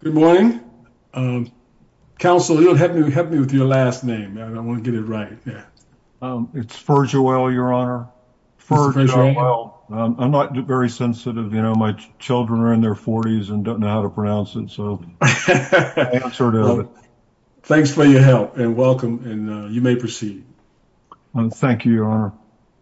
Good morning. Counsel, help me with your last name. I want to get it right. It's Ferjoel, your honor. I'm not very sensitive. You know, my children are in their 40s and don't know how to pronounce it. So, thanks for your help and welcome and you may proceed. Thank you, your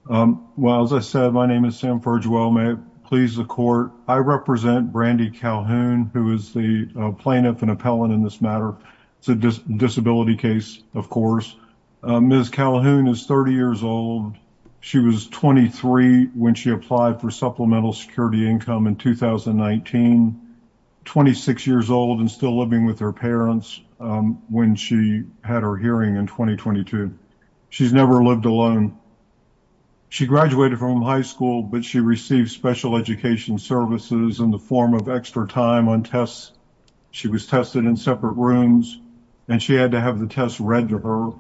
honor. Well, as I said, my name is Sam Ferjoel. May it please the court, I represent Brandy Calhoun, who is the plaintiff and appellant in this matter. It's a disability case, of course. Ms. Calhoun is 30 years old. She was 23 when she applied for supplemental security income in 2019. 26 years old and still living with her parents when she had her hearing in 2022. She's never lived alone. She graduated from high school, but she received special education services in the form of extra time on tests. She was tested in separate rooms and she had to have the tests read to her.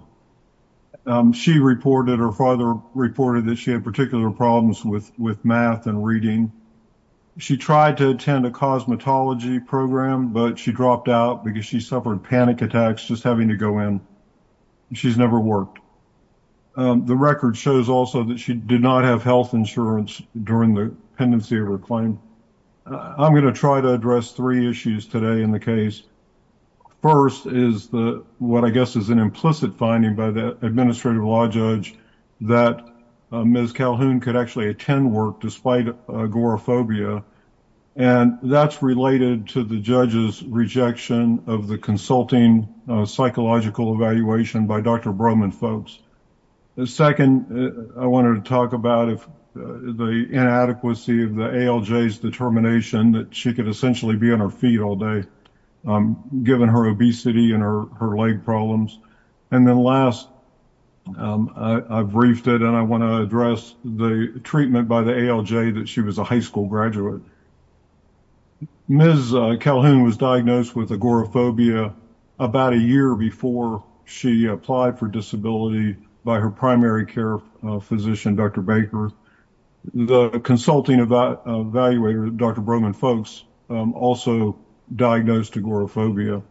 She reported or her father reported that she had particular problems with math and reading. She tried to attend a cosmetology program, but she dropped out because she suffered panic attacks just having to go in. She's never worked. The record shows also that she did not have health insurance during the pendency of her claim. I'm going to try to address three issues today in the case. First is what I guess is an implicit finding by the administrative law judge that Ms. Calhoun could actually attend work despite agoraphobia and that's related to the judge's rejection of consulting psychological evaluation by Dr. Broman folks. Second, I wanted to talk about the inadequacy of the ALJ's determination that she could essentially be on her feet all day given her obesity and her leg problems. And then last, I've briefed it and I want to address the treatment by the ALJ that she was a high school graduate. Ms. Calhoun was diagnosed with agoraphobia about a year before she applied for disability by her primary care physician, Dr. Baker. The consulting evaluator, Dr. Broman folks, also diagnosed agoraphobia.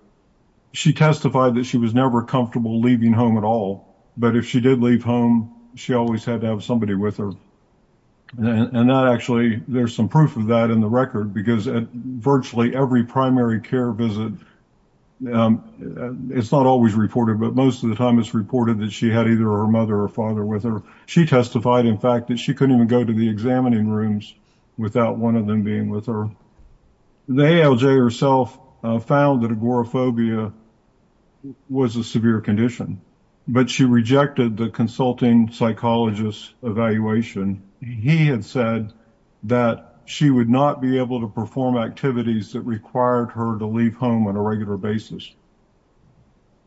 She testified that she was never comfortable leaving home at all, but if she did leave home, she always had to have somebody with her. And that actually, there's some proof of that in the record because at virtually every primary care visit, it's not always reported, but most of the time it's reported that she had either her mother or father with her. She testified, in fact, that she couldn't even go to the examining rooms without one of them being with her. The ALJ herself found that agoraphobia was a severe condition, but she rejected the consulting psychologist evaluation. He had said that she would not be able to perform activities that required her to leave home on a regular basis.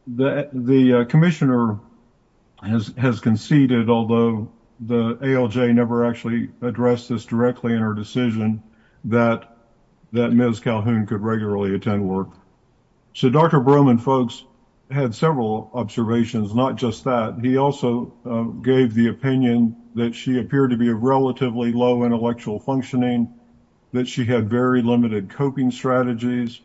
The commissioner has conceded, although the ALJ never actually addressed this directly in her decision, that Ms. Calhoun could regularly attend work. So Dr. Broman folks had several observations, not just that. He also gave the opinion that she appeared to be relatively low intellectual functioning, that she had very limited coping strategies.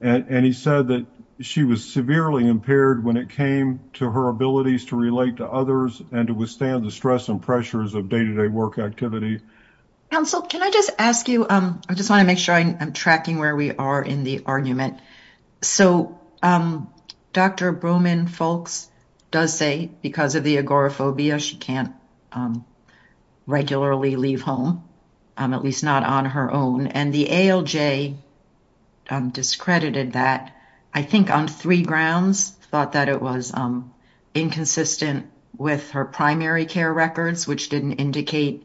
And he said that she was severely impaired when it came to her abilities to relate to others and to withstand the stress and pressures of day-to-day work activity. Counsel, can I just ask you, I just want to make sure I'm tracking where we are in the argument. So Dr. Broman folks does say, because of the agoraphobia, she can't regularly leave home, at least not on her own. And the ALJ discredited that, I think on three grounds, thought that it was inconsistent with her primary care records, which didn't indicate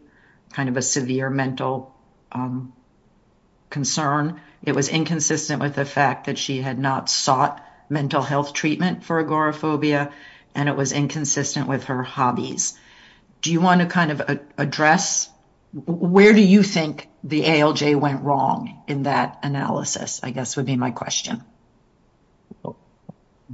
kind of a severe mental concern. It was inconsistent with the fact that she had not sought mental health treatment for agoraphobia, and it was inconsistent with her hobbies. Do you want to kind of address, where do you think the ALJ went wrong in that analysis, I guess would be my question.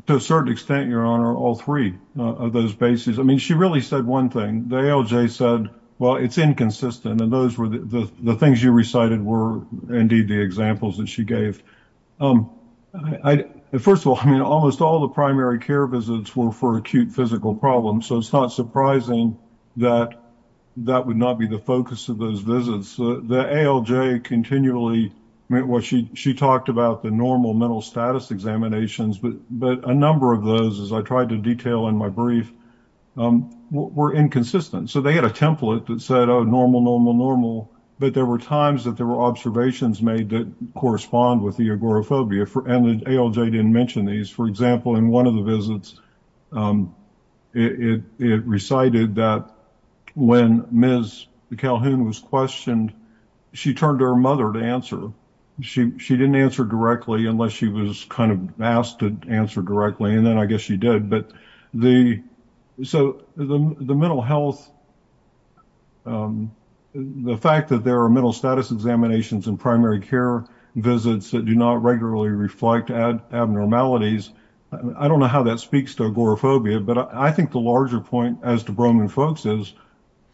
To a certain extent, Your Honor, all three of those bases. I mean, she really said one thing, the ALJ said, well, it's inconsistent. And those were the things you recited were indeed the examples that she gave. First of all, I mean, almost all the primary care visits were for acute physical problems. So it's not surprising that that would not be the focus of those visits. The ALJ continually meant she talked about the normal mental status examinations, but a number of those, as I tried to detail in my brief, were inconsistent. So they had a template that said, oh, normal, normal, normal. But there were times that there were observations made that correspond with the agoraphobia, and the ALJ didn't mention these. For example, in one of the visits, it recited that when Ms. Calhoun was questioned, she turned to her mother to answer. She didn't answer directly unless she was kind of asked to answer directly, and then I guess she did. So the mental health, the fact that there are mental status examinations in primary care visits that do not regularly reflect abnormalities, I don't know how that speaks to agoraphobia, but I think the larger point as to Broman Folks is,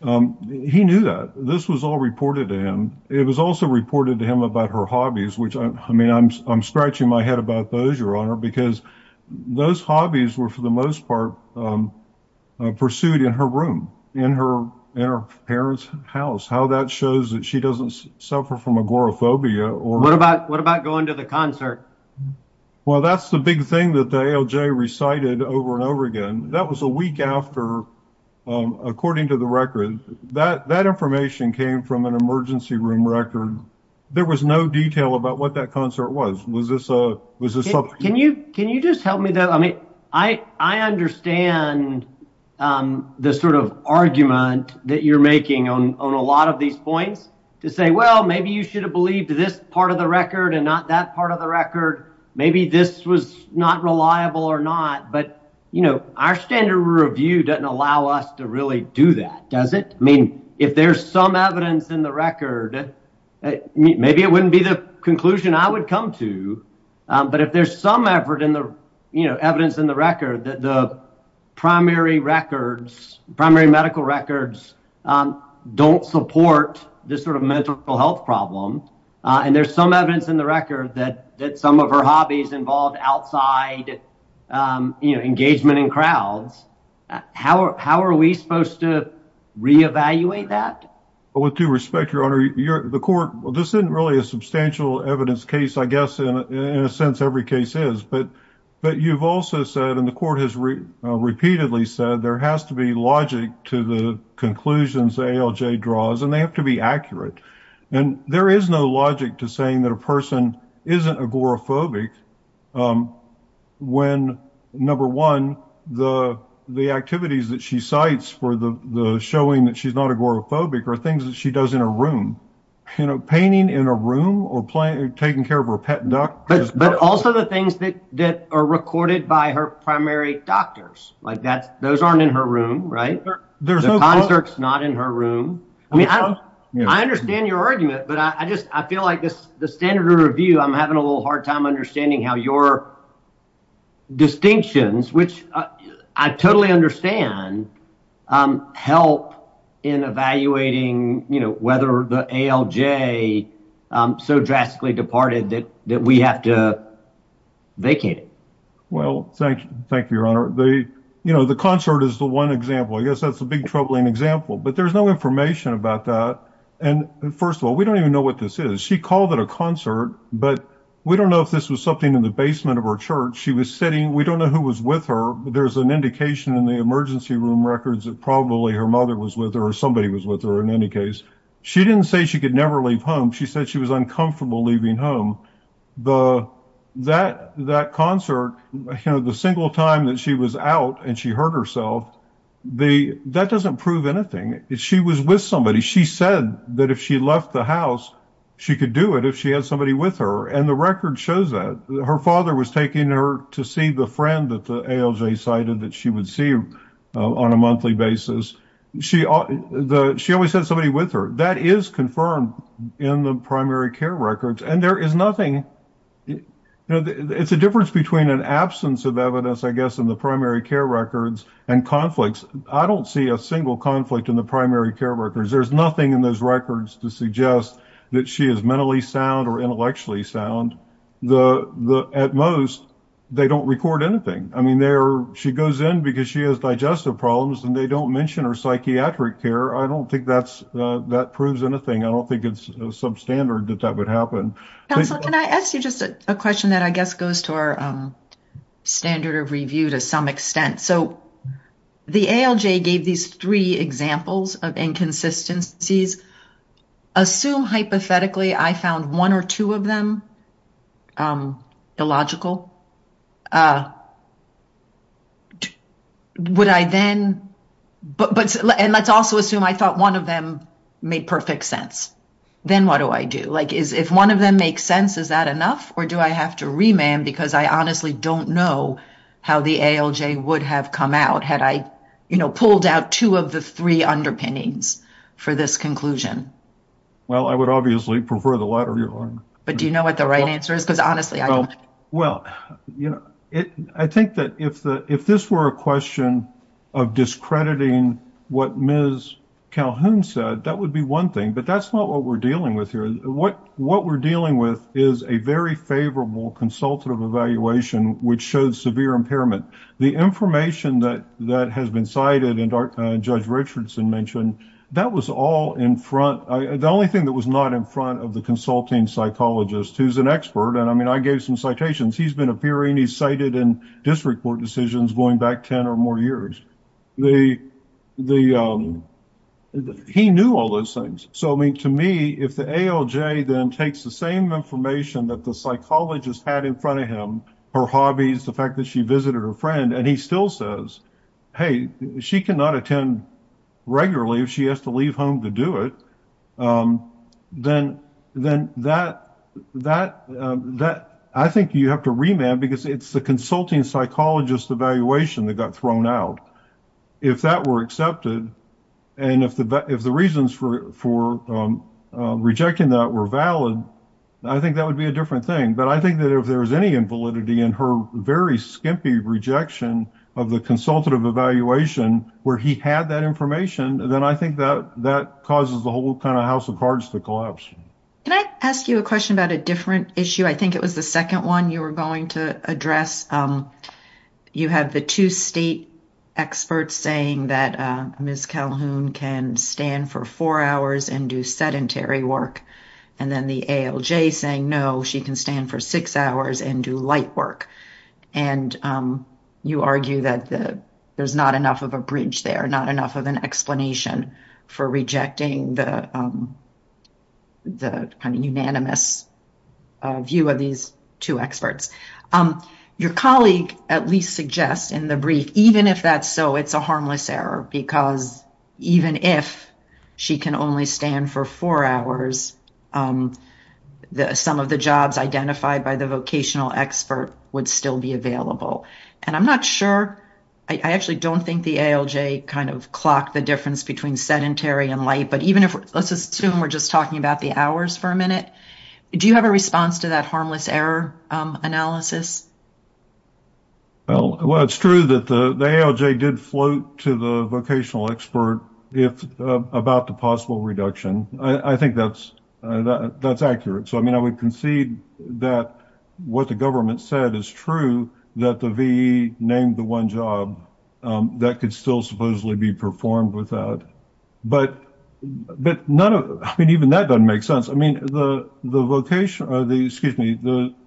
he knew that. This was all reported to him. It was also reported to him about her hobbies, which, I mean, I'm scratching my head about those, Your Honor, because those hobbies were, for the most part, pursued in her room, in her parents' house, how that shows that she doesn't suffer from agoraphobia. What about going to the concert? Well, that's the big thing that the ALJ recited over and over again. That was a week after, according to the record. That information came from an emergency room record. There was no detail about what that concert was. Was this a... Can you just help me, though? I mean, I understand the sort of argument that you're making on a lot of these points to say, well, maybe you should have believed this part of the record and not that part of the record. Maybe this was not reliable or not, but our standard review doesn't allow us to really do that, does it? I mean, if there's some evidence in the record, maybe it wouldn't be the conclusion I would come to, but if there's some evidence in the record that the primary medical records don't support this sort of mental health problem, and there's some evidence in the record that some of her hobbies involved outside engagement in crowds, how are we supposed to re-evaluate that? With due respect, Your Honor, the court... This isn't really a substantial evidence case. I guess in a sense, every case is, but you've also said, and the court has repeatedly said, there has to be logic to the conclusions ALJ draws, and they have to be accurate, and there is no logic to saying that a person isn't agoraphobic when, number one, the activities that she cites for the showing that she's not agoraphobic are things that she does in her room, you know, painting in a room or taking care of her pet duck. But also the things that are recorded by her primary doctors. Those aren't in her room, right? The concert's not in her room. I mean, I understand your argument, but I feel like the standard of review, I'm having a little hard time understanding how your distinctions, which I totally understand, help in evaluating whether the ALJ so drastically departed that we have to vacate it. Well, thank you, Your Honor. You know, the concert is the one example. I guess that's a big troubling example, but there's no information about that. And first of all, we don't even know what this is. She called it a concert, but we don't know if this was something in the basement of her church. She was sitting, we don't know who was with her, but there's an indication in the emergency room records that probably her mother was with her or somebody was with her in any case. She didn't say she could never leave home. She said she was uncomfortable leaving home. That concert, the single time that she was out and she hurt herself, that doesn't prove anything. She was with somebody. She said that if she left the house, she could do it if she had somebody with her. And the record shows that. Her father was taking her to see the friend that the ALJ cited that she would see on a monthly basis. She always had somebody with her. That is confirmed in the primary care records, and there is nothing. It's a difference between an absence of evidence, I guess, in the primary care records and conflicts. I don't see a single conflict in the primary care records. There's nothing in those records to suggest that she is mentally sound or intellectually sound. At most, they don't record anything. I mean, she goes in because she has digestive problems and they don't mention her psychiatric care. I don't think that proves anything. I don't think it's substandard that that would happen. Counselor, can I ask you just a question that I guess goes to our standard of review to some extent? So the ALJ gave these three examples of inconsistencies. Assume hypothetically, I found one or two of them illogical. Would I then... And let's also assume I thought one of them made perfect sense. Then what do I do? If one of them makes sense, is that enough? Or do I have to remand because I honestly don't know how the ALJ would have come out had I pulled out two of the three underpinnings for this conclusion? Well, I would obviously prefer the latter. But do you know what the right answer is? Because honestly, I don't. Well, I think that if this were a question of discrediting what Ms. Calhoun said, that would be one thing. But that's not what we're dealing with here. What we're dealing with is a very favorable consultative evaluation, which shows severe impairment. The information that has been cited and Judge Richardson mentioned, that was all in front. The only thing that was not in front of the consulting psychologist, who's an expert, and I mean, I gave some citations. He's been appearing, he's cited in district court decisions going back 10 or more years. He knew all those things. So, I mean, to me, if the ALJ then takes the same information that the psychologist had in front of him, her hobbies, the fact that she visited her friend, and he still says, hey, she cannot attend regularly if she has to leave home to do it, then I think you have to remand because it's the consulting psychologist evaluation that got thrown out. If that were rejecting that were valid, I think that would be a different thing. But I think that if there was any invalidity in her very skimpy rejection of the consultative evaluation, where he had that information, then I think that that causes the whole kind of house of cards to collapse. Can I ask you a question about a different issue? I think it was the second one you were going to address. You had the two state experts saying that Ms. Calhoun can stand for four hours and do sedentary work, and then the ALJ saying, no, she can stand for six hours and do light work. And you argue that there's not enough of a bridge there, not enough of an explanation for rejecting the kind of unanimous view of these two experts. Your colleague at least suggests in the brief, even if that's so, it's a harmless error because even if she can only stand for four hours, some of the jobs identified by the vocational expert would still be available. And I'm not sure, I actually don't think the ALJ kind of clocked the difference between sedentary and light, but even if, let's assume we're just talking about the hours for a minute, do you have a response to that harmless error analysis? Well, it's true that the ALJ did float to the vocational expert about the possible reduction. I think that's accurate. So, I mean, I would concede that what the government said is true, that the VE named the one job that could still supposedly be performed without, but none of, I mean, even that doesn't make sense. I mean, the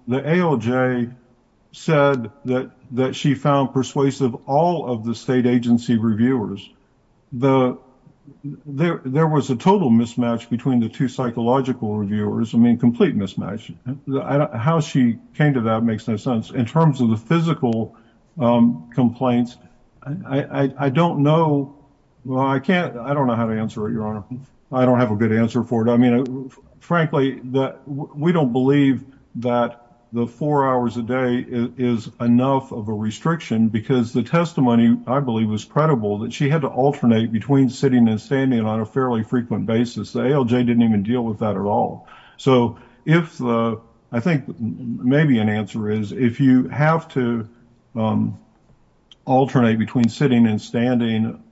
ALJ said that she found persuasive all of the state agency reviewers. There was a total mismatch between the two psychological reviewers. I mean, complete mismatch. How she came to that makes no sense. In terms of the physical complaints, I don't know. Well, I can't, I don't know how to answer it, Your Honor. I don't have a good answer for it. I mean, frankly, we don't believe that the four hours a day is enough of a restriction because the testimony, I believe, was credible that she had to alternate between sitting and standing on a fairly frequent basis. The ALJ didn't even deal with that at all. So, if the, I think maybe an answer is if you have to alternate between sitting and standing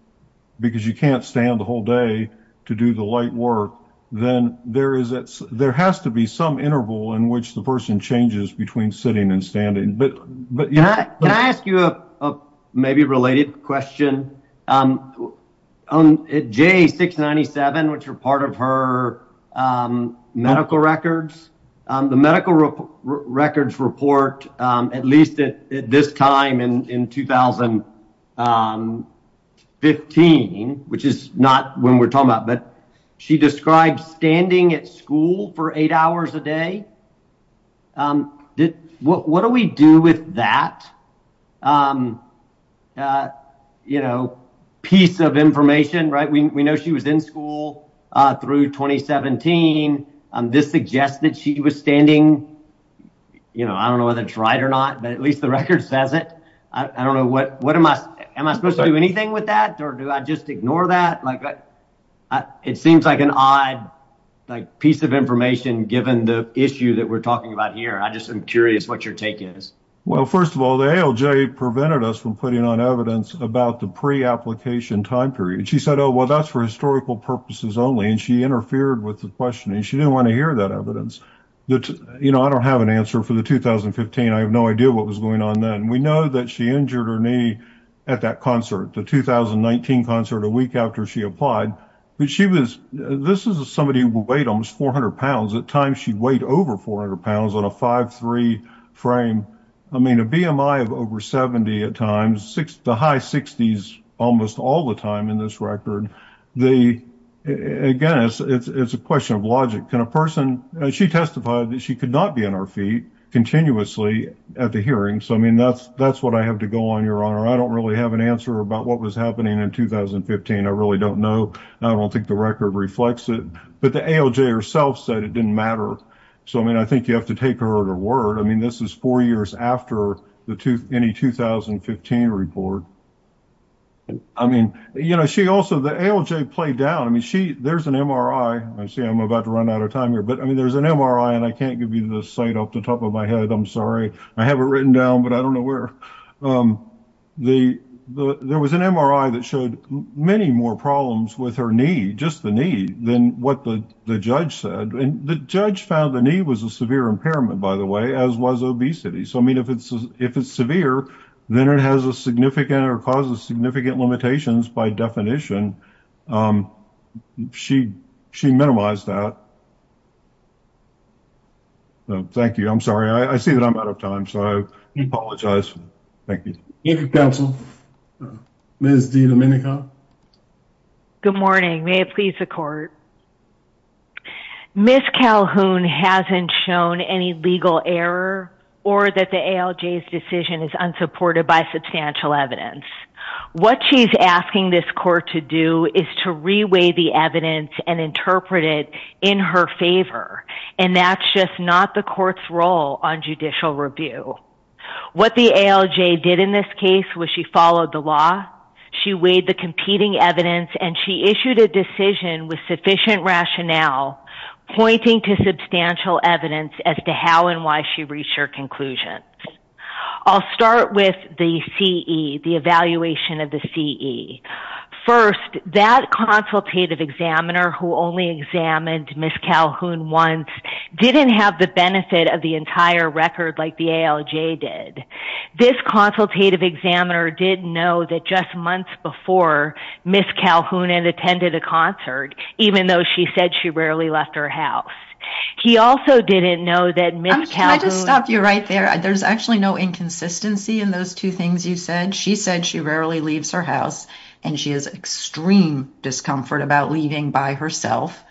because you can't stand the whole day to do the light work, then there is, there has to be some interval in which the person changes between sitting and standing. But, but, Your Honor. Can I ask you a maybe related question? At J697, which are part of her medical records, the medical records report, at least at this time in 2015, which is not when we're talking about, but she described standing at school for eight hours a day. What do we do with that? You know, piece of information, right? We know she was in school through 2017. This suggests that she was standing, you know, I don't know whether it's right or not, but at least the record says it. I don't know what, what am I, am I supposed to do anything with that? Or do I just ignore that? Like, it seems like an odd, like, piece of information given the issue that we're talking about here. I just am curious what your take is. Well, first of all, the ALJ prevented us from putting on evidence about the pre-application time period. She said, oh, well, that's for historical purposes only. And she interfered with the questioning. She didn't want to hear that evidence. You know, I don't have an answer for the 2015. I have no idea what was going on then. We know that she injured her knee at that concert, the 2019 concert a week after she applied. But she was, this is somebody who weighed almost 400 pounds. At times, she weighed over 400 pounds on a 5'3 frame. I mean, a BMI of over 70 at times, the high 60s almost all the time in this record. The, again, it's a question of logic. Can a person, she testified that she could not be on her feet continuously at the hearing. So, I mean, that's, that's what I have to go on, Your Honor. I don't really have an answer about what was happening in 2015. I really don't know. I don't think the record reflects it. But the ALJ herself said it didn't matter. So, I mean, I think you have to take her at her word. I mean, this is four years after the, any 2015 report. I mean, you know, she also, the ALJ played down. I mean, she, there's an MRI. I see I'm about to run out of time here. But, I mean, there's an MRI, and I can't give you the site off the top of my head. I'm sorry. I have it written down, but I don't know where. The, there was an MRI that showed many more problems with her knee, just the knee, than what the judge said. And the judge found the knee was a severe impairment, by the way, as was obesity. So, I mean, if it's, if it's severe, then it has a significant or causes significant limitations by definition. She, she minimized that. So, thank you. I'm sorry. I see that I'm out of time. So, I apologize. Thank you. Thank you, counsel. Ms. Domenico. Good morning. May it please the court. Ms. Calhoun hasn't shown any legal error or that the ALJ's decision is unsupported by substantial evidence. What she's asking this court to do is to reweigh the evidence and interpret it in her favor. And that's just not the court's role on judicial review. What the ALJ did in this case was she followed the law, she weighed the competing evidence, and she issued a decision with sufficient rationale pointing to substantial evidence as to how and why she reached her conclusion. I'll start with the CE, the evaluation of the CE. First, that consultative examiner who only examined Ms. Calhoun once didn't have the entire record like the ALJ did. This consultative examiner didn't know that just months before Ms. Calhoun had attended a concert, even though she said she rarely left her house. He also didn't know that Ms. Calhoun... Can I just stop you right there? There's actually no inconsistency in those two things you said. She said she rarely leaves her house, and she has extreme discomfort about leaving by herself.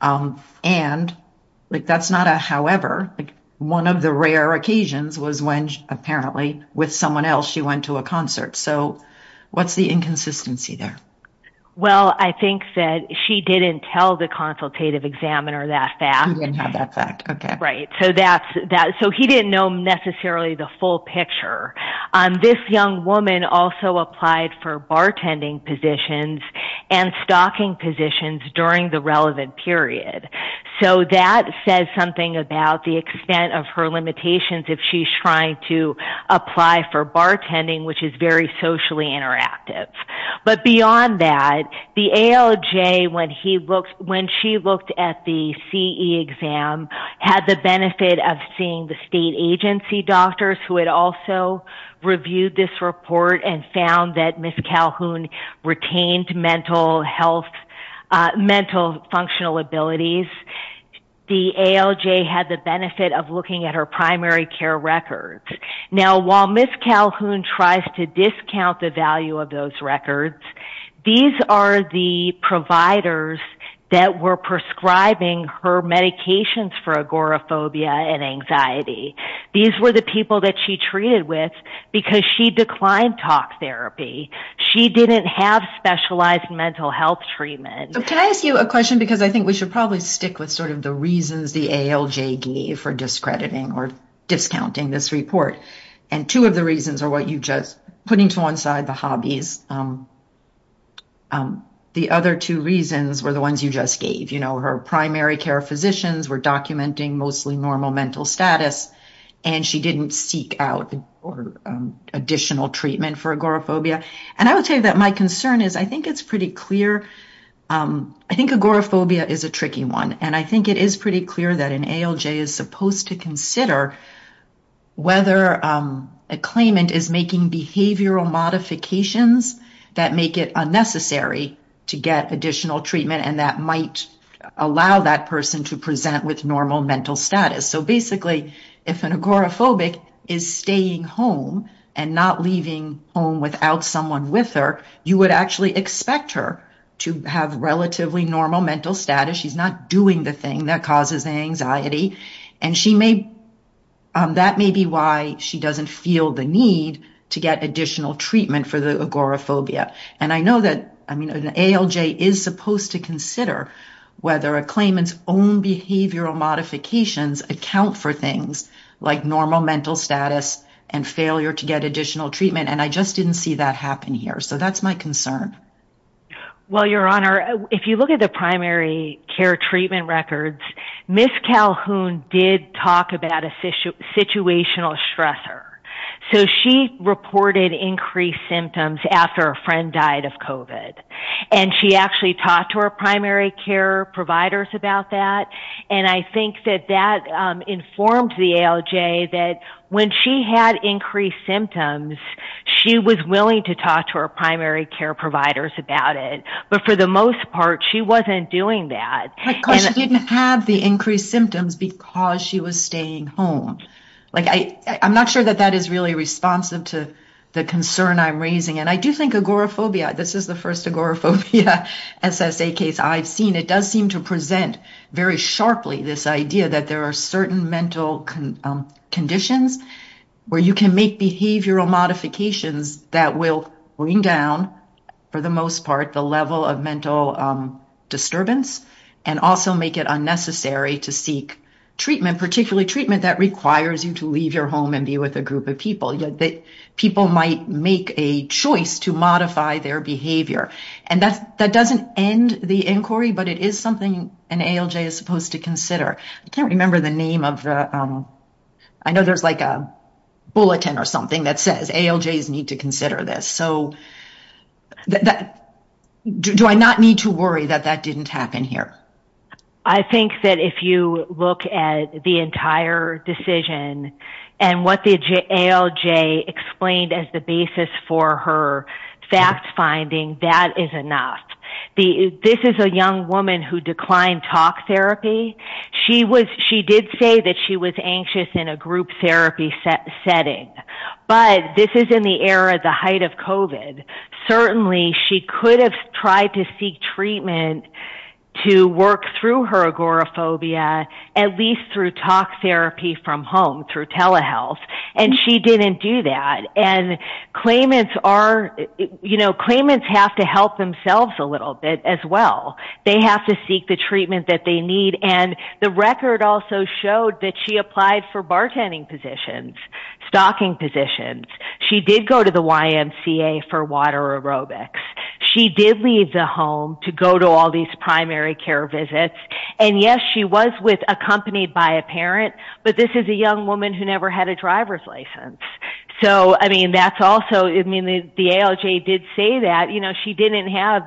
And that's not a however. One of the rare occasions was when apparently with someone else, she went to a concert. So what's the inconsistency there? Well, I think that she didn't tell the consultative examiner that fact. He didn't have that fact. Okay. Right. So he didn't know necessarily the full picture. This young woman also applied for bartending positions and stocking positions during the relevant period. So that says something about the extent of her limitations if she's trying to apply for bartending, which is very socially interactive. But beyond that, the ALJ, when she looked at the CE exam, had the benefit of seeing the state agency doctors who had also reviewed this report and found that Ms. Calhoun retained mental health, mental functional abilities. The ALJ had the benefit of looking at her primary care records. Now, while Ms. Calhoun tries to discount the value of those records, these are the providers that were prescribing her medications for agoraphobia and anxiety. These were the people that she treated with because she declined talk therapy. She didn't have specialized mental health treatment. Can I ask you a question? Because I think we should probably stick with sort of the reasons the ALJ gave for discrediting or discounting this report. And two of the reasons are what you just put into one side, the hobbies. The other two reasons were the ones you just gave, you know, her primary care physicians were documenting mostly normal mental status, and she didn't seek out additional treatment for agoraphobia. And I will tell you that my concern is I think it's pretty clear. I think agoraphobia is a tricky one. And I think it is pretty clear that an ALJ is supposed to consider whether a claimant is making behavioral modifications that make it unnecessary to get additional treatment and that might allow that person to present with normal mental status. So basically, if an agoraphobic is staying home and not leaving home without someone with her, you would actually expect her to have relatively normal mental status. She's not doing the thing that causes anxiety. And that may be why she doesn't feel the need to get additional treatment for the agoraphobia. And I know that, I mean, an ALJ is supposed to consider whether a claimant's own behavioral modifications account for things like normal mental status and failure to get additional treatment. And I just didn't see that happen here. So that's my concern. Well, Your Honor, if you look at the primary care treatment records, Ms. Calhoun did talk about a situational stressor. So she reported increased symptoms after a friend died of COVID. And she actually talked to her primary care providers about that. And I think that that informed the ALJ that when she had increased symptoms, she was willing to talk to her primary care providers about it. But for the most part, she wasn't doing that. Because she didn't have the increased symptoms because she was staying home. Like, I'm not sure that that is really responsive to the concern I'm raising. And I do think agoraphobia, this is the first agoraphobia SSA case I've seen, it does seem to present very sharply this idea that there are certain mental conditions where you can make behavioral modifications that will bring down, for the most part, the level of mental disturbance, and also make it unnecessary to seek treatment, particularly treatment that requires you to leave your home and be with a group of people. People might make a choice to modify their behavior. And that doesn't end the inquiry, but it is something an ALJ is supposed to consider. I can't remember the name of the, I know there's like a bulletin or something that says ALJs need to consider this. So do I not need to worry that that didn't happen here? I think that if you look at the entire decision, and what the ALJ explained as the basis for her fact-finding, that is enough. This is a young woman who declined talk therapy. She did say that she was anxious in a group therapy setting. But this is in the era, the height of COVID. Certainly, she could have tried to seek treatment to work through her agoraphobia, at least through talk therapy from home, through telehealth. And she didn't do that. And claimants have to help themselves a little bit as well. They have to seek the treatment that they need. And the record also showed that she applied for bartending positions, stocking positions. She did go to the YMCA for water aerobics. She did leave the home to go to all these primary care visits. And yes, she was accompanied by a parent, but this is a young who never had a driver's license. So I mean, that's also, I mean, the ALJ did say that, you know, she didn't have,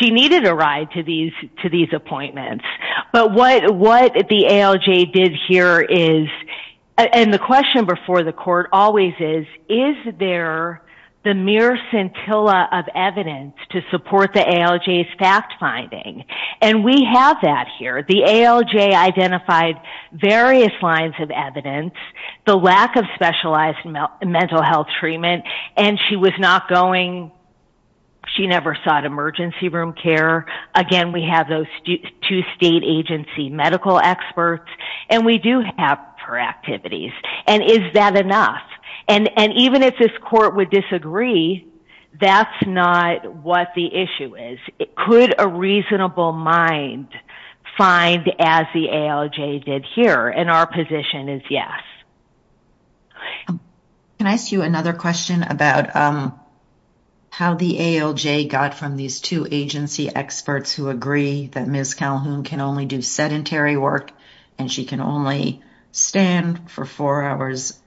she needed a ride to these appointments. But what the ALJ did here is, and the question before the court always is, is there the mere scintilla of evidence to support the ALJ's fact-finding? And we have that here. The ALJ identified various lines of evidence, the lack of specialized mental health treatment, and she was not going, she never sought emergency room care. Again, we have those two state agency medical experts, and we do have her activities. And is that enough? And even if this court would disagree, that's not what the issue is. Could a reasonable mind find, as the ALJ did here, and our position is yes. Can I ask you another question about how the ALJ got from these two agency experts who agree that Ms. Calhoun can only do sedentary work and she can only stand for four hours,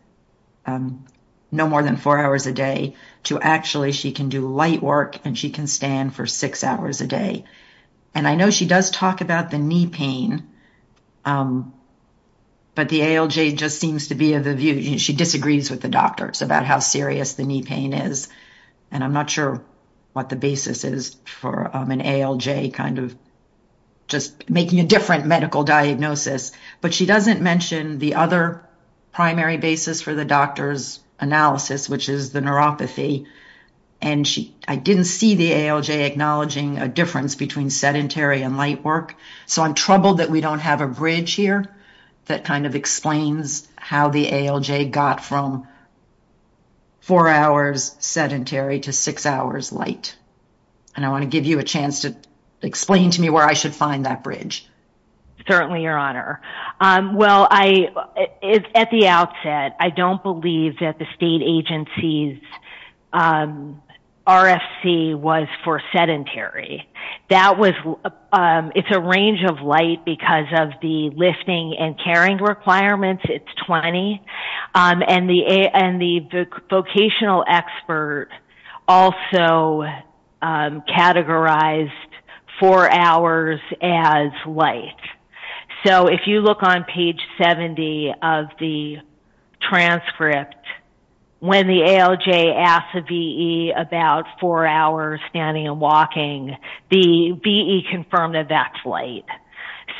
no more than four hours a day, to actually she can do light work and she can stand for six hours a day. And I know she does talk about the knee pain, but the ALJ just seems to be of the view, she disagrees with the doctors about how serious the knee pain is. And I'm not sure what the basis is for an ALJ kind of just making a different medical diagnosis, but she doesn't mention the other primary basis for the doctor's analysis, which is the neuropathy. And I didn't see the ALJ acknowledging a difference between sedentary and light work. So I'm troubled that we don't have a bridge here that kind of explains how the ALJ got from four hours sedentary to six hours light. And I want to give you a chance to explain to me where I should find that bridge. Certainly, Your Honor. Well, at the outset, I don't believe that the state agency's RFC was for sedentary. It's a range of light because of the lifting and carrying requirements, it's 20. And the vocational expert also categorized four hours as light. So if you look on page 70 of the transcript, when the ALJ asked the VE about four hours standing and walking, the VE confirmed that that's light.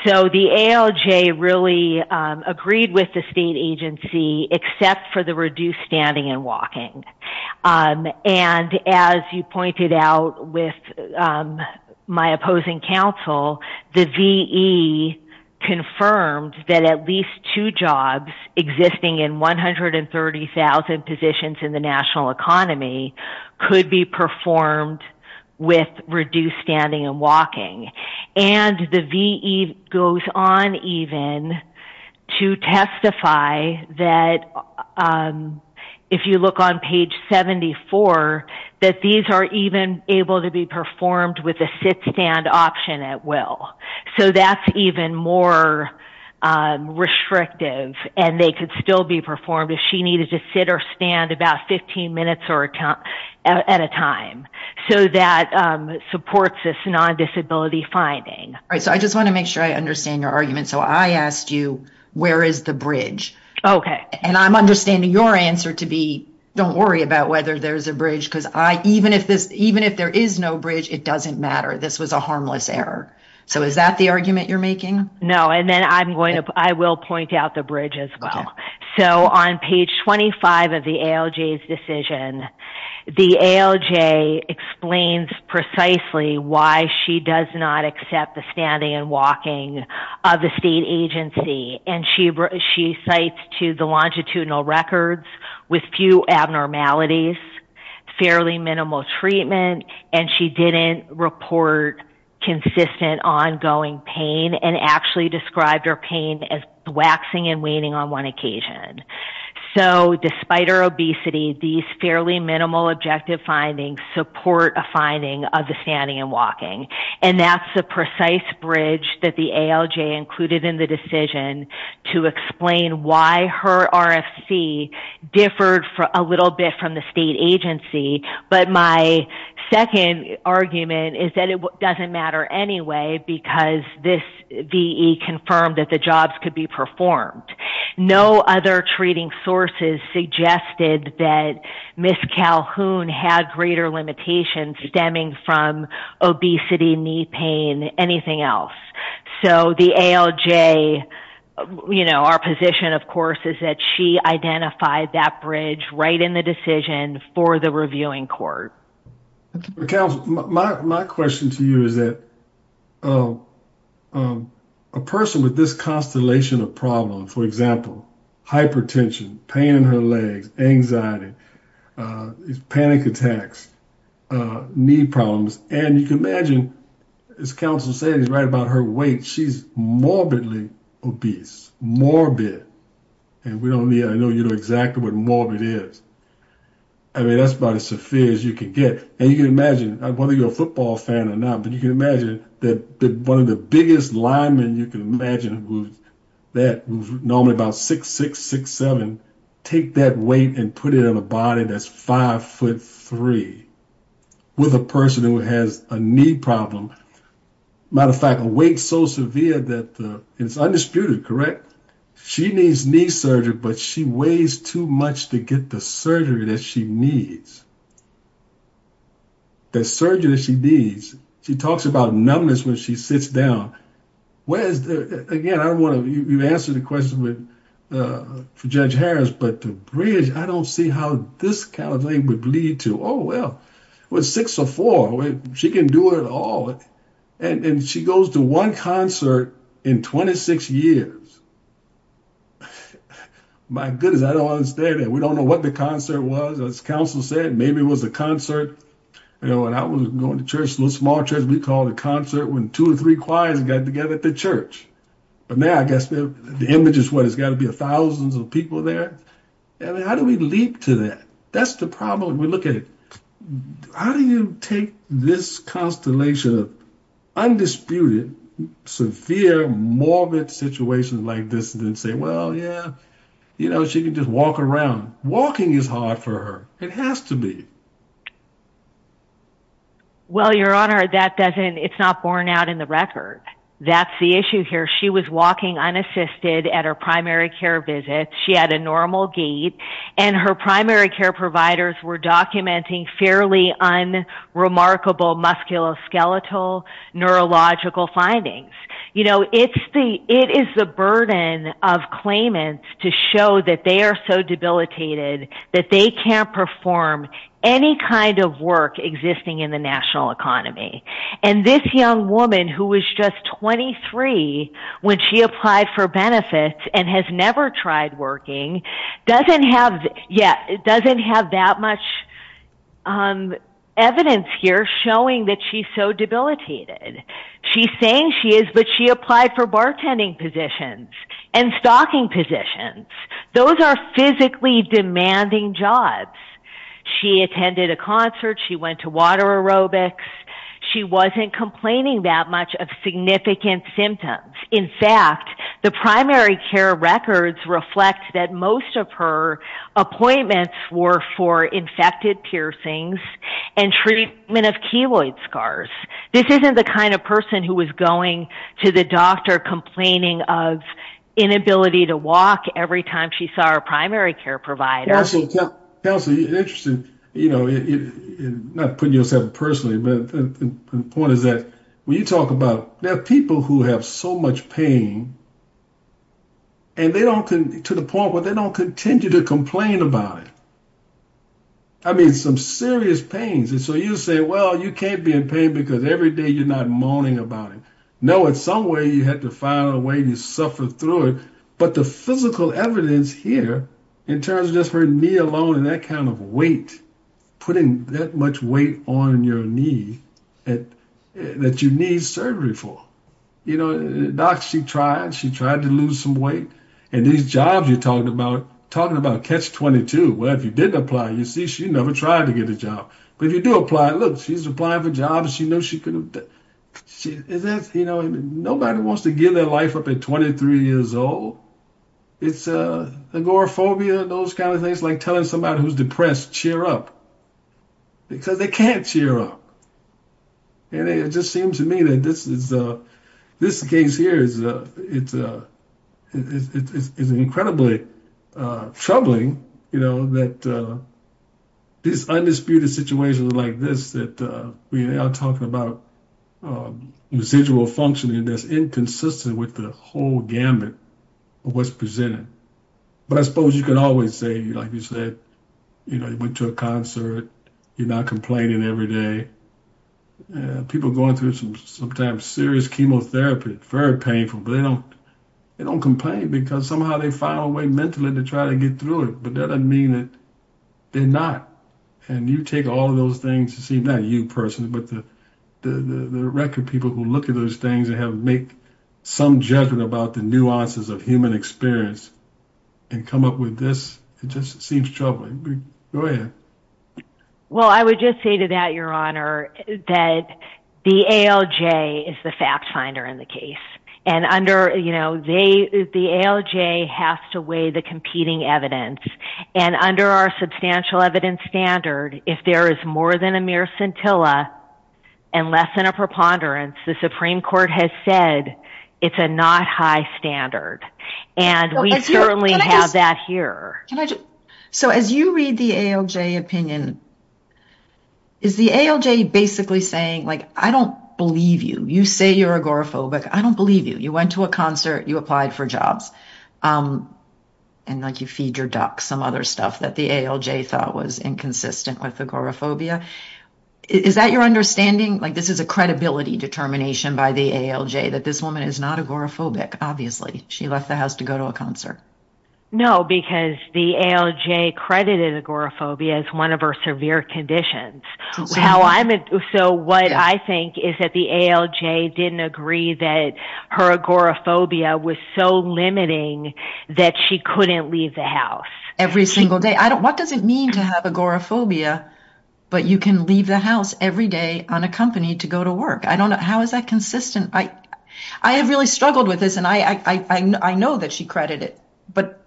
So the ALJ really agreed with the state agency, except for the reduced standing and walking. And as you pointed out with my opposing counsel, the VE confirmed that at least two jobs existing in 130,000 positions in the national economy could be performed with reduced standing and walking. And the VE goes on even to testify that if you look on page 74, that these are even able to be performed with a sit-stand option at will. So that's even more restrictive, and they could still be performed if she needed to sit or stand about 15 minutes at a time. So that supports this non-disability finding. All right. So I just want to make sure I understand your argument. So I asked you, where is the bridge? Okay. And I'm understanding your answer to be, don't worry about whether there's a bridge, because even if there is no bridge, it doesn't matter. This was a harmless error. So is that the argument you're making? No. And then I will point out the bridge as well. So on page 25 of the ALJ's decision, the ALJ explains precisely why she does not accept the standing and walking of the state agency. And she cites to the longitudinal records with few abnormalities, fairly minimal treatment, and she didn't report consistent ongoing pain and actually described her pain as waxing and waning on one occasion. So despite her obesity, these fairly minimal objective findings support a finding of the standing and walking. And that's the precise bridge that the ALJ included in the decision to explain why her RFC differed a little bit from the state agency. But my second argument is that it doesn't matter anyway, because this VE confirmed that the jobs could be performed. No other treating sources suggested that Ms. Calhoun had greater limitations stemming from obesity, knee pain, anything else. So the ALJ, our position, of course, is that she identified that bridge right in the decision for the reviewing court. Counsel, my question to you is that a person with this constellation of problems, for example, hypertension, pain in her legs, anxiety, panic attacks, knee problems, and you can imagine, as counsel said, he's right about her weight, she's morbidly obese, morbid. And we don't need, I know you exactly what morbid is. I mean, that's about as severe as you can get. And you can imagine, whether you're a football fan or not, but you can imagine that one of the biggest linemen you can imagine that was normally about six, six, six, seven, take that weight and put it on a body that's five foot three with a person who has a knee problem. Matter of fact, a weight so severe that it's undisputed, correct? She needs knee surgery, but she weighs too much to get the surgery that she needs. The surgery that she needs. She talks about numbness when she sits down. Where is the, again, I don't want to, you've answered the question for Judge Harris, but the bridge, I don't see how this kind of thing would lead to, oh, well, with six or four, she can do it all. And she goes to one concert in 26 years. My goodness, I don't understand that. We don't know what the concert was. As counsel said, maybe it was a concert. You know, when I was going to church, a little small church, we called it a concert when two or three choirs got together at the church. But now I guess the image is what has got to be a thousands of people there. How do we leap to that? That's the problem we're looking at. How do you take this constellation of undisputed, severe, morbid situations like this and then say, well, yeah, you know, she can just walk around. Walking is hard for her. It has to be. Well, Your Honor, that doesn't, it's not borne out in the record. That's the issue here. She was walking unassisted at her primary care visit. She had a normal gait and her primary care providers were documenting fairly unremarkable musculoskeletal neurological findings. You know, it is the burden of claimants to show that they are so debilitated that they can't perform any kind of work existing in the national economy. And this young woman who was just 23 when she applied for benefits and has never tried working doesn't have, yeah, doesn't have that much evidence here showing that she's so debilitated. She's saying she is, but she applied for bartending positions and stocking positions. Those are physically demanding jobs. She attended a water aerobics. She wasn't complaining that much of significant symptoms. In fact, the primary care records reflect that most of her appointments were for infected piercings and treatment of keloid scars. This isn't the kind of person who was going to the doctor complaining of inability to walk every time she saw her primary care provider. Yeah, so Kelsey, interesting, you know, not putting yourself personally, but the point is that when you talk about people who have so much pain and they don't, to the point where they don't continue to complain about it. I mean, some serious pains. And so you say, well, you can't be in pain because every day you're not moaning about it. No, in some way you had to find a way to suffer through it. But the physical evidence here in terms of just her knee alone and that kind of weight, putting that much weight on your knee that you need surgery for, you know, doc, she tried, she tried to lose some weight. And these jobs you're talking about, talking about catch 22. Well, if you didn't apply, you see, she never tried to get a job. But if you do apply, look, she's applying for jobs. She knew she couldn't, you know, nobody wants to give their life up at 23 years old. It's agoraphobia, those kinds of things, like telling somebody who's depressed, cheer up. Because they can't cheer up. And it just seems to me that this is, this case here is, it's incredibly troubling, you know, that these undisputed situations like this that we are talking about residual functioning that's inconsistent with the whole gamut of what's presented. But I suppose you can always say, like you said, you know, you went to a concert, you're not complaining every day. People going through some sometimes serious chemotherapy, very painful, but they don't, they don't complain, because somehow they find a way mentally to try to get through it. But that doesn't mean that they're not. And you take all of those things, you see, not you personally, but the record people who look at those things and have make some judgment about the nuances of human experience, and come up with this, it just seems troubling. Go ahead. Well, I would just say to that, Your Honor, that the ALJ is the fact finder in the case. And under you know, they the ALJ has to weigh the competing evidence. And under our substantial evidence standard, if there is more than a mere scintilla, and less than a preponderance, the Supreme Court has said, it's a not high standard. And we certainly have that here. So as you read the ALJ opinion, is the ALJ basically saying like, I don't believe you, you say you're agoraphobic, I don't believe you, you went to a concert, you applied for jobs. And like you feed your duck some other stuff that the ALJ thought was inconsistent with agoraphobia. Is that your understanding? Like this is a credibility determination by the ALJ that this woman is not agoraphobic, obviously, she left the house to go to a concert. No, because the ALJ credited agoraphobia as one of our severe conditions. So what I think is that the ALJ didn't agree that her agoraphobia was so limiting, that she couldn't leave the house every single day. I don't what does it mean to have agoraphobia? But you can leave the house every day on a company to go to work. I don't know how is that consistent? I have really struggled with this. And I know that she credited it. But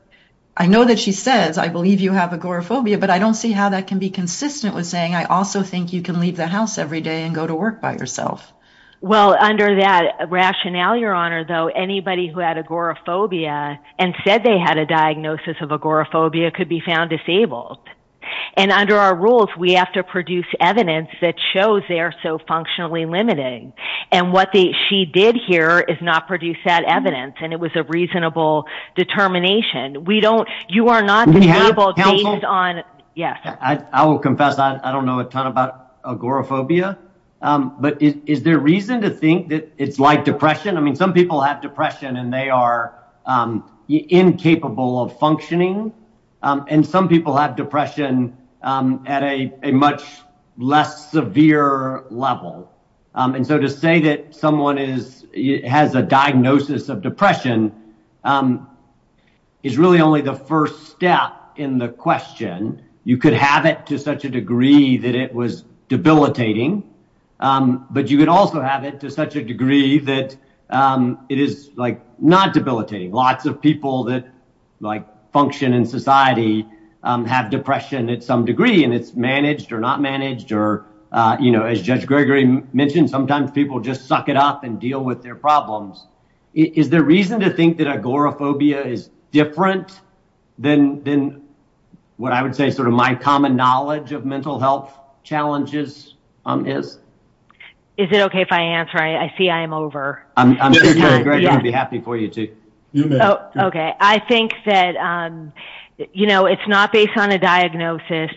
I know that she says, I believe you have agoraphobia. But I don't see how that can be consistent with saying, I also think you can leave the house every day and go to work by yourself. Well, under that rationale, Your Honor, though, anybody who had agoraphobia and said they had a diagnosis of agoraphobia could be found disabled. And under our rules, we have to produce evidence that shows they are so functionally limiting. And what they she did here is not produce that evidence. And it was a reasonable determination. We don't you are not on. Yes, I will confess, I don't know a ton about agoraphobia. But is there reason to think that it's like depression? I mean, some people have depression and they are incapable of functioning. And some people have depression at a much less severe level. And so to say that someone is has a diagnosis of depression is really only the first step in the question. You could have it to such a degree that it was debilitating. But you could also have it to such a degree that it is like debilitating. Lots of people that like function in society have depression at some degree and it's managed or not managed. Or, you know, as Judge Gregory mentioned, sometimes people just suck it up and deal with their problems. Is there reason to think that agoraphobia is different than what I would say sort of my common knowledge of mental health challenges is? Is it OK if I see I'm over? I'm going to be happy for you to. OK, I think that, you know, it's not based on a diagnosis.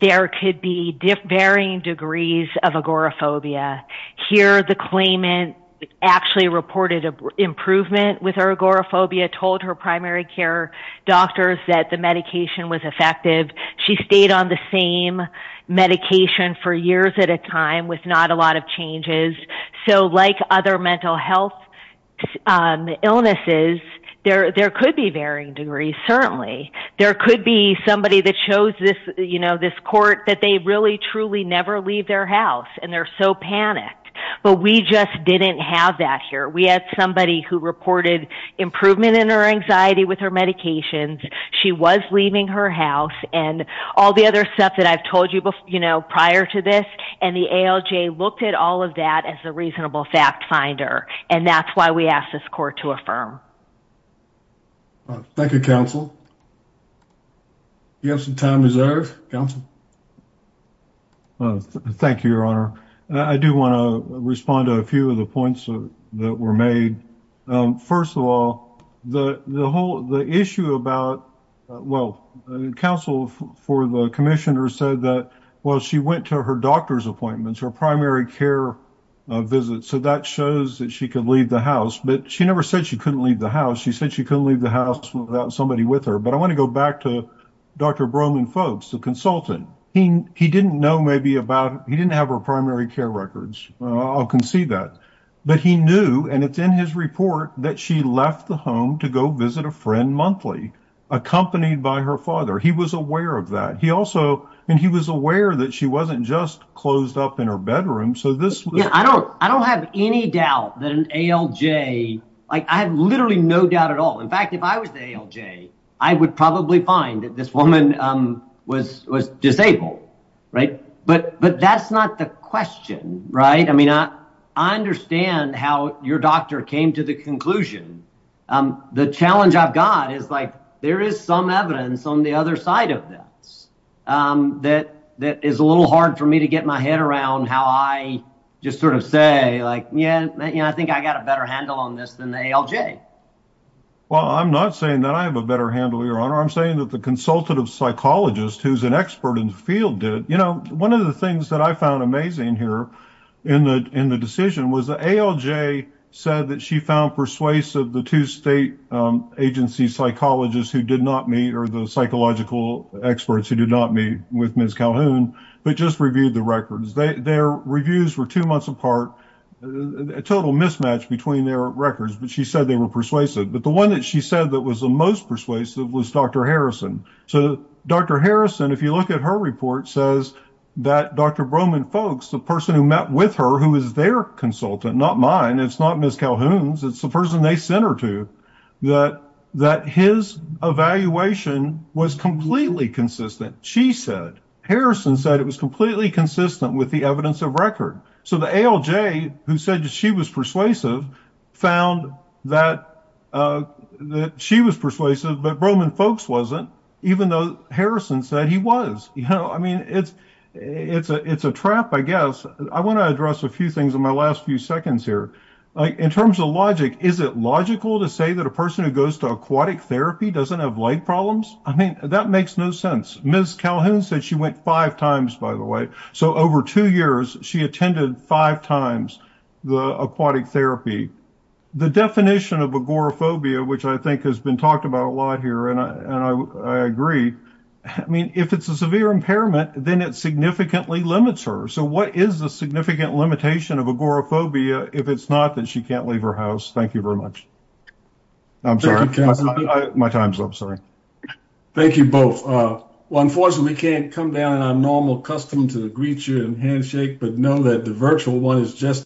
There could be varying degrees of agoraphobia here. The claimant actually reported an improvement with her agoraphobia, told her primary care doctors that the medication was effective. She stayed on the same medication for years at a time with not a lot of changes. So like other mental health illnesses, there could be varying degrees. Certainly there could be somebody that shows this, you know, this court that they really, truly never leave their house and they're so panicked. But we just didn't have that here. We had somebody who reported improvement in her anxiety with her medications. She was leaving her house and all the other stuff I've told you, you know, prior to this. And the ALJ looked at all of that as a reasonable fact finder. And that's why we asked this court to affirm. Thank you, counsel. You have some time reserved. Thank you, Your Honor. I do want to respond to a few of the points that were made. First of all, the whole, the issue about, well, counsel for the commissioner said that, well, she went to her doctor's appointments, her primary care visit. So that shows that she could leave the house. But she never said she couldn't leave the house. She said she couldn't leave the house without somebody with her. But I want to go back to Dr. Broman-Folkes, the consultant. He didn't know maybe about, he didn't have her primary care records. I'll concede that. But he and it's in his report that she left the home to go visit a friend monthly, accompanied by her father. He was aware of that. He also, and he was aware that she wasn't just closed up in her bedroom. So this, I don't, I don't have any doubt that an ALJ, like I have literally no doubt at all. In fact, if I was the ALJ, I would probably find that this woman was, was disabled. Right. But, but that's not the question, right? I mean, I, I understand how your doctor came to the conclusion. The challenge I've got is like, there is some evidence on the other side of this, that, that is a little hard for me to get my head around how I just sort of say like, yeah, I think I got a better handle on this than the ALJ. Well, I'm not saying that I have a better handle, your honor. I'm saying that the consultative psychologist who's an expert in the field did, you know, one of the things that I found amazing here in the, in the decision was the ALJ said that she found persuasive the two state agency psychologists who did not meet, or the psychological experts who did not meet with Ms. Calhoun, but just reviewed the records. Their reviews were two months apart, a total mismatch between their records, but she said they were persuasive. But the one that she said that was the most persuasive was Dr. Harrison. So Dr. Harrison, if you look at her report, says that Dr. Broman-Folkes, the person who met with her, who is their consultant, not mine, it's not Ms. Calhoun's, it's the person they sent her to, that, that his evaluation was completely consistent. She said, Harrison said it was completely consistent with the evidence of record. So the ALJ who said that she was persuasive found that, that she was persuasive, but Broman-Folkes wasn't, even though Harrison said he was, you know, I mean, it's, it's a, it's a trap, I guess. I want to address a few things in my last few seconds here. Like in terms of logic, is it logical to say that a person who goes to aquatic therapy doesn't have leg problems? I mean, that makes no sense. Ms. Calhoun said she went five times, by the way. So over two years, she attended five times the aquatic therapy. The definition of agoraphobia, which I think has been talked about a lot here, and I, and I, I agree. I mean, if it's a severe impairment, then it significantly limits her. So what is the significant limitation of agoraphobia if it's not that she can't leave her house? Thank you very much. I'm sorry, my time's up, sorry. Thank you both. Well, unfortunately can't come down, I'm normal, accustomed to the greet you and handshake, but know that the virtual one is just.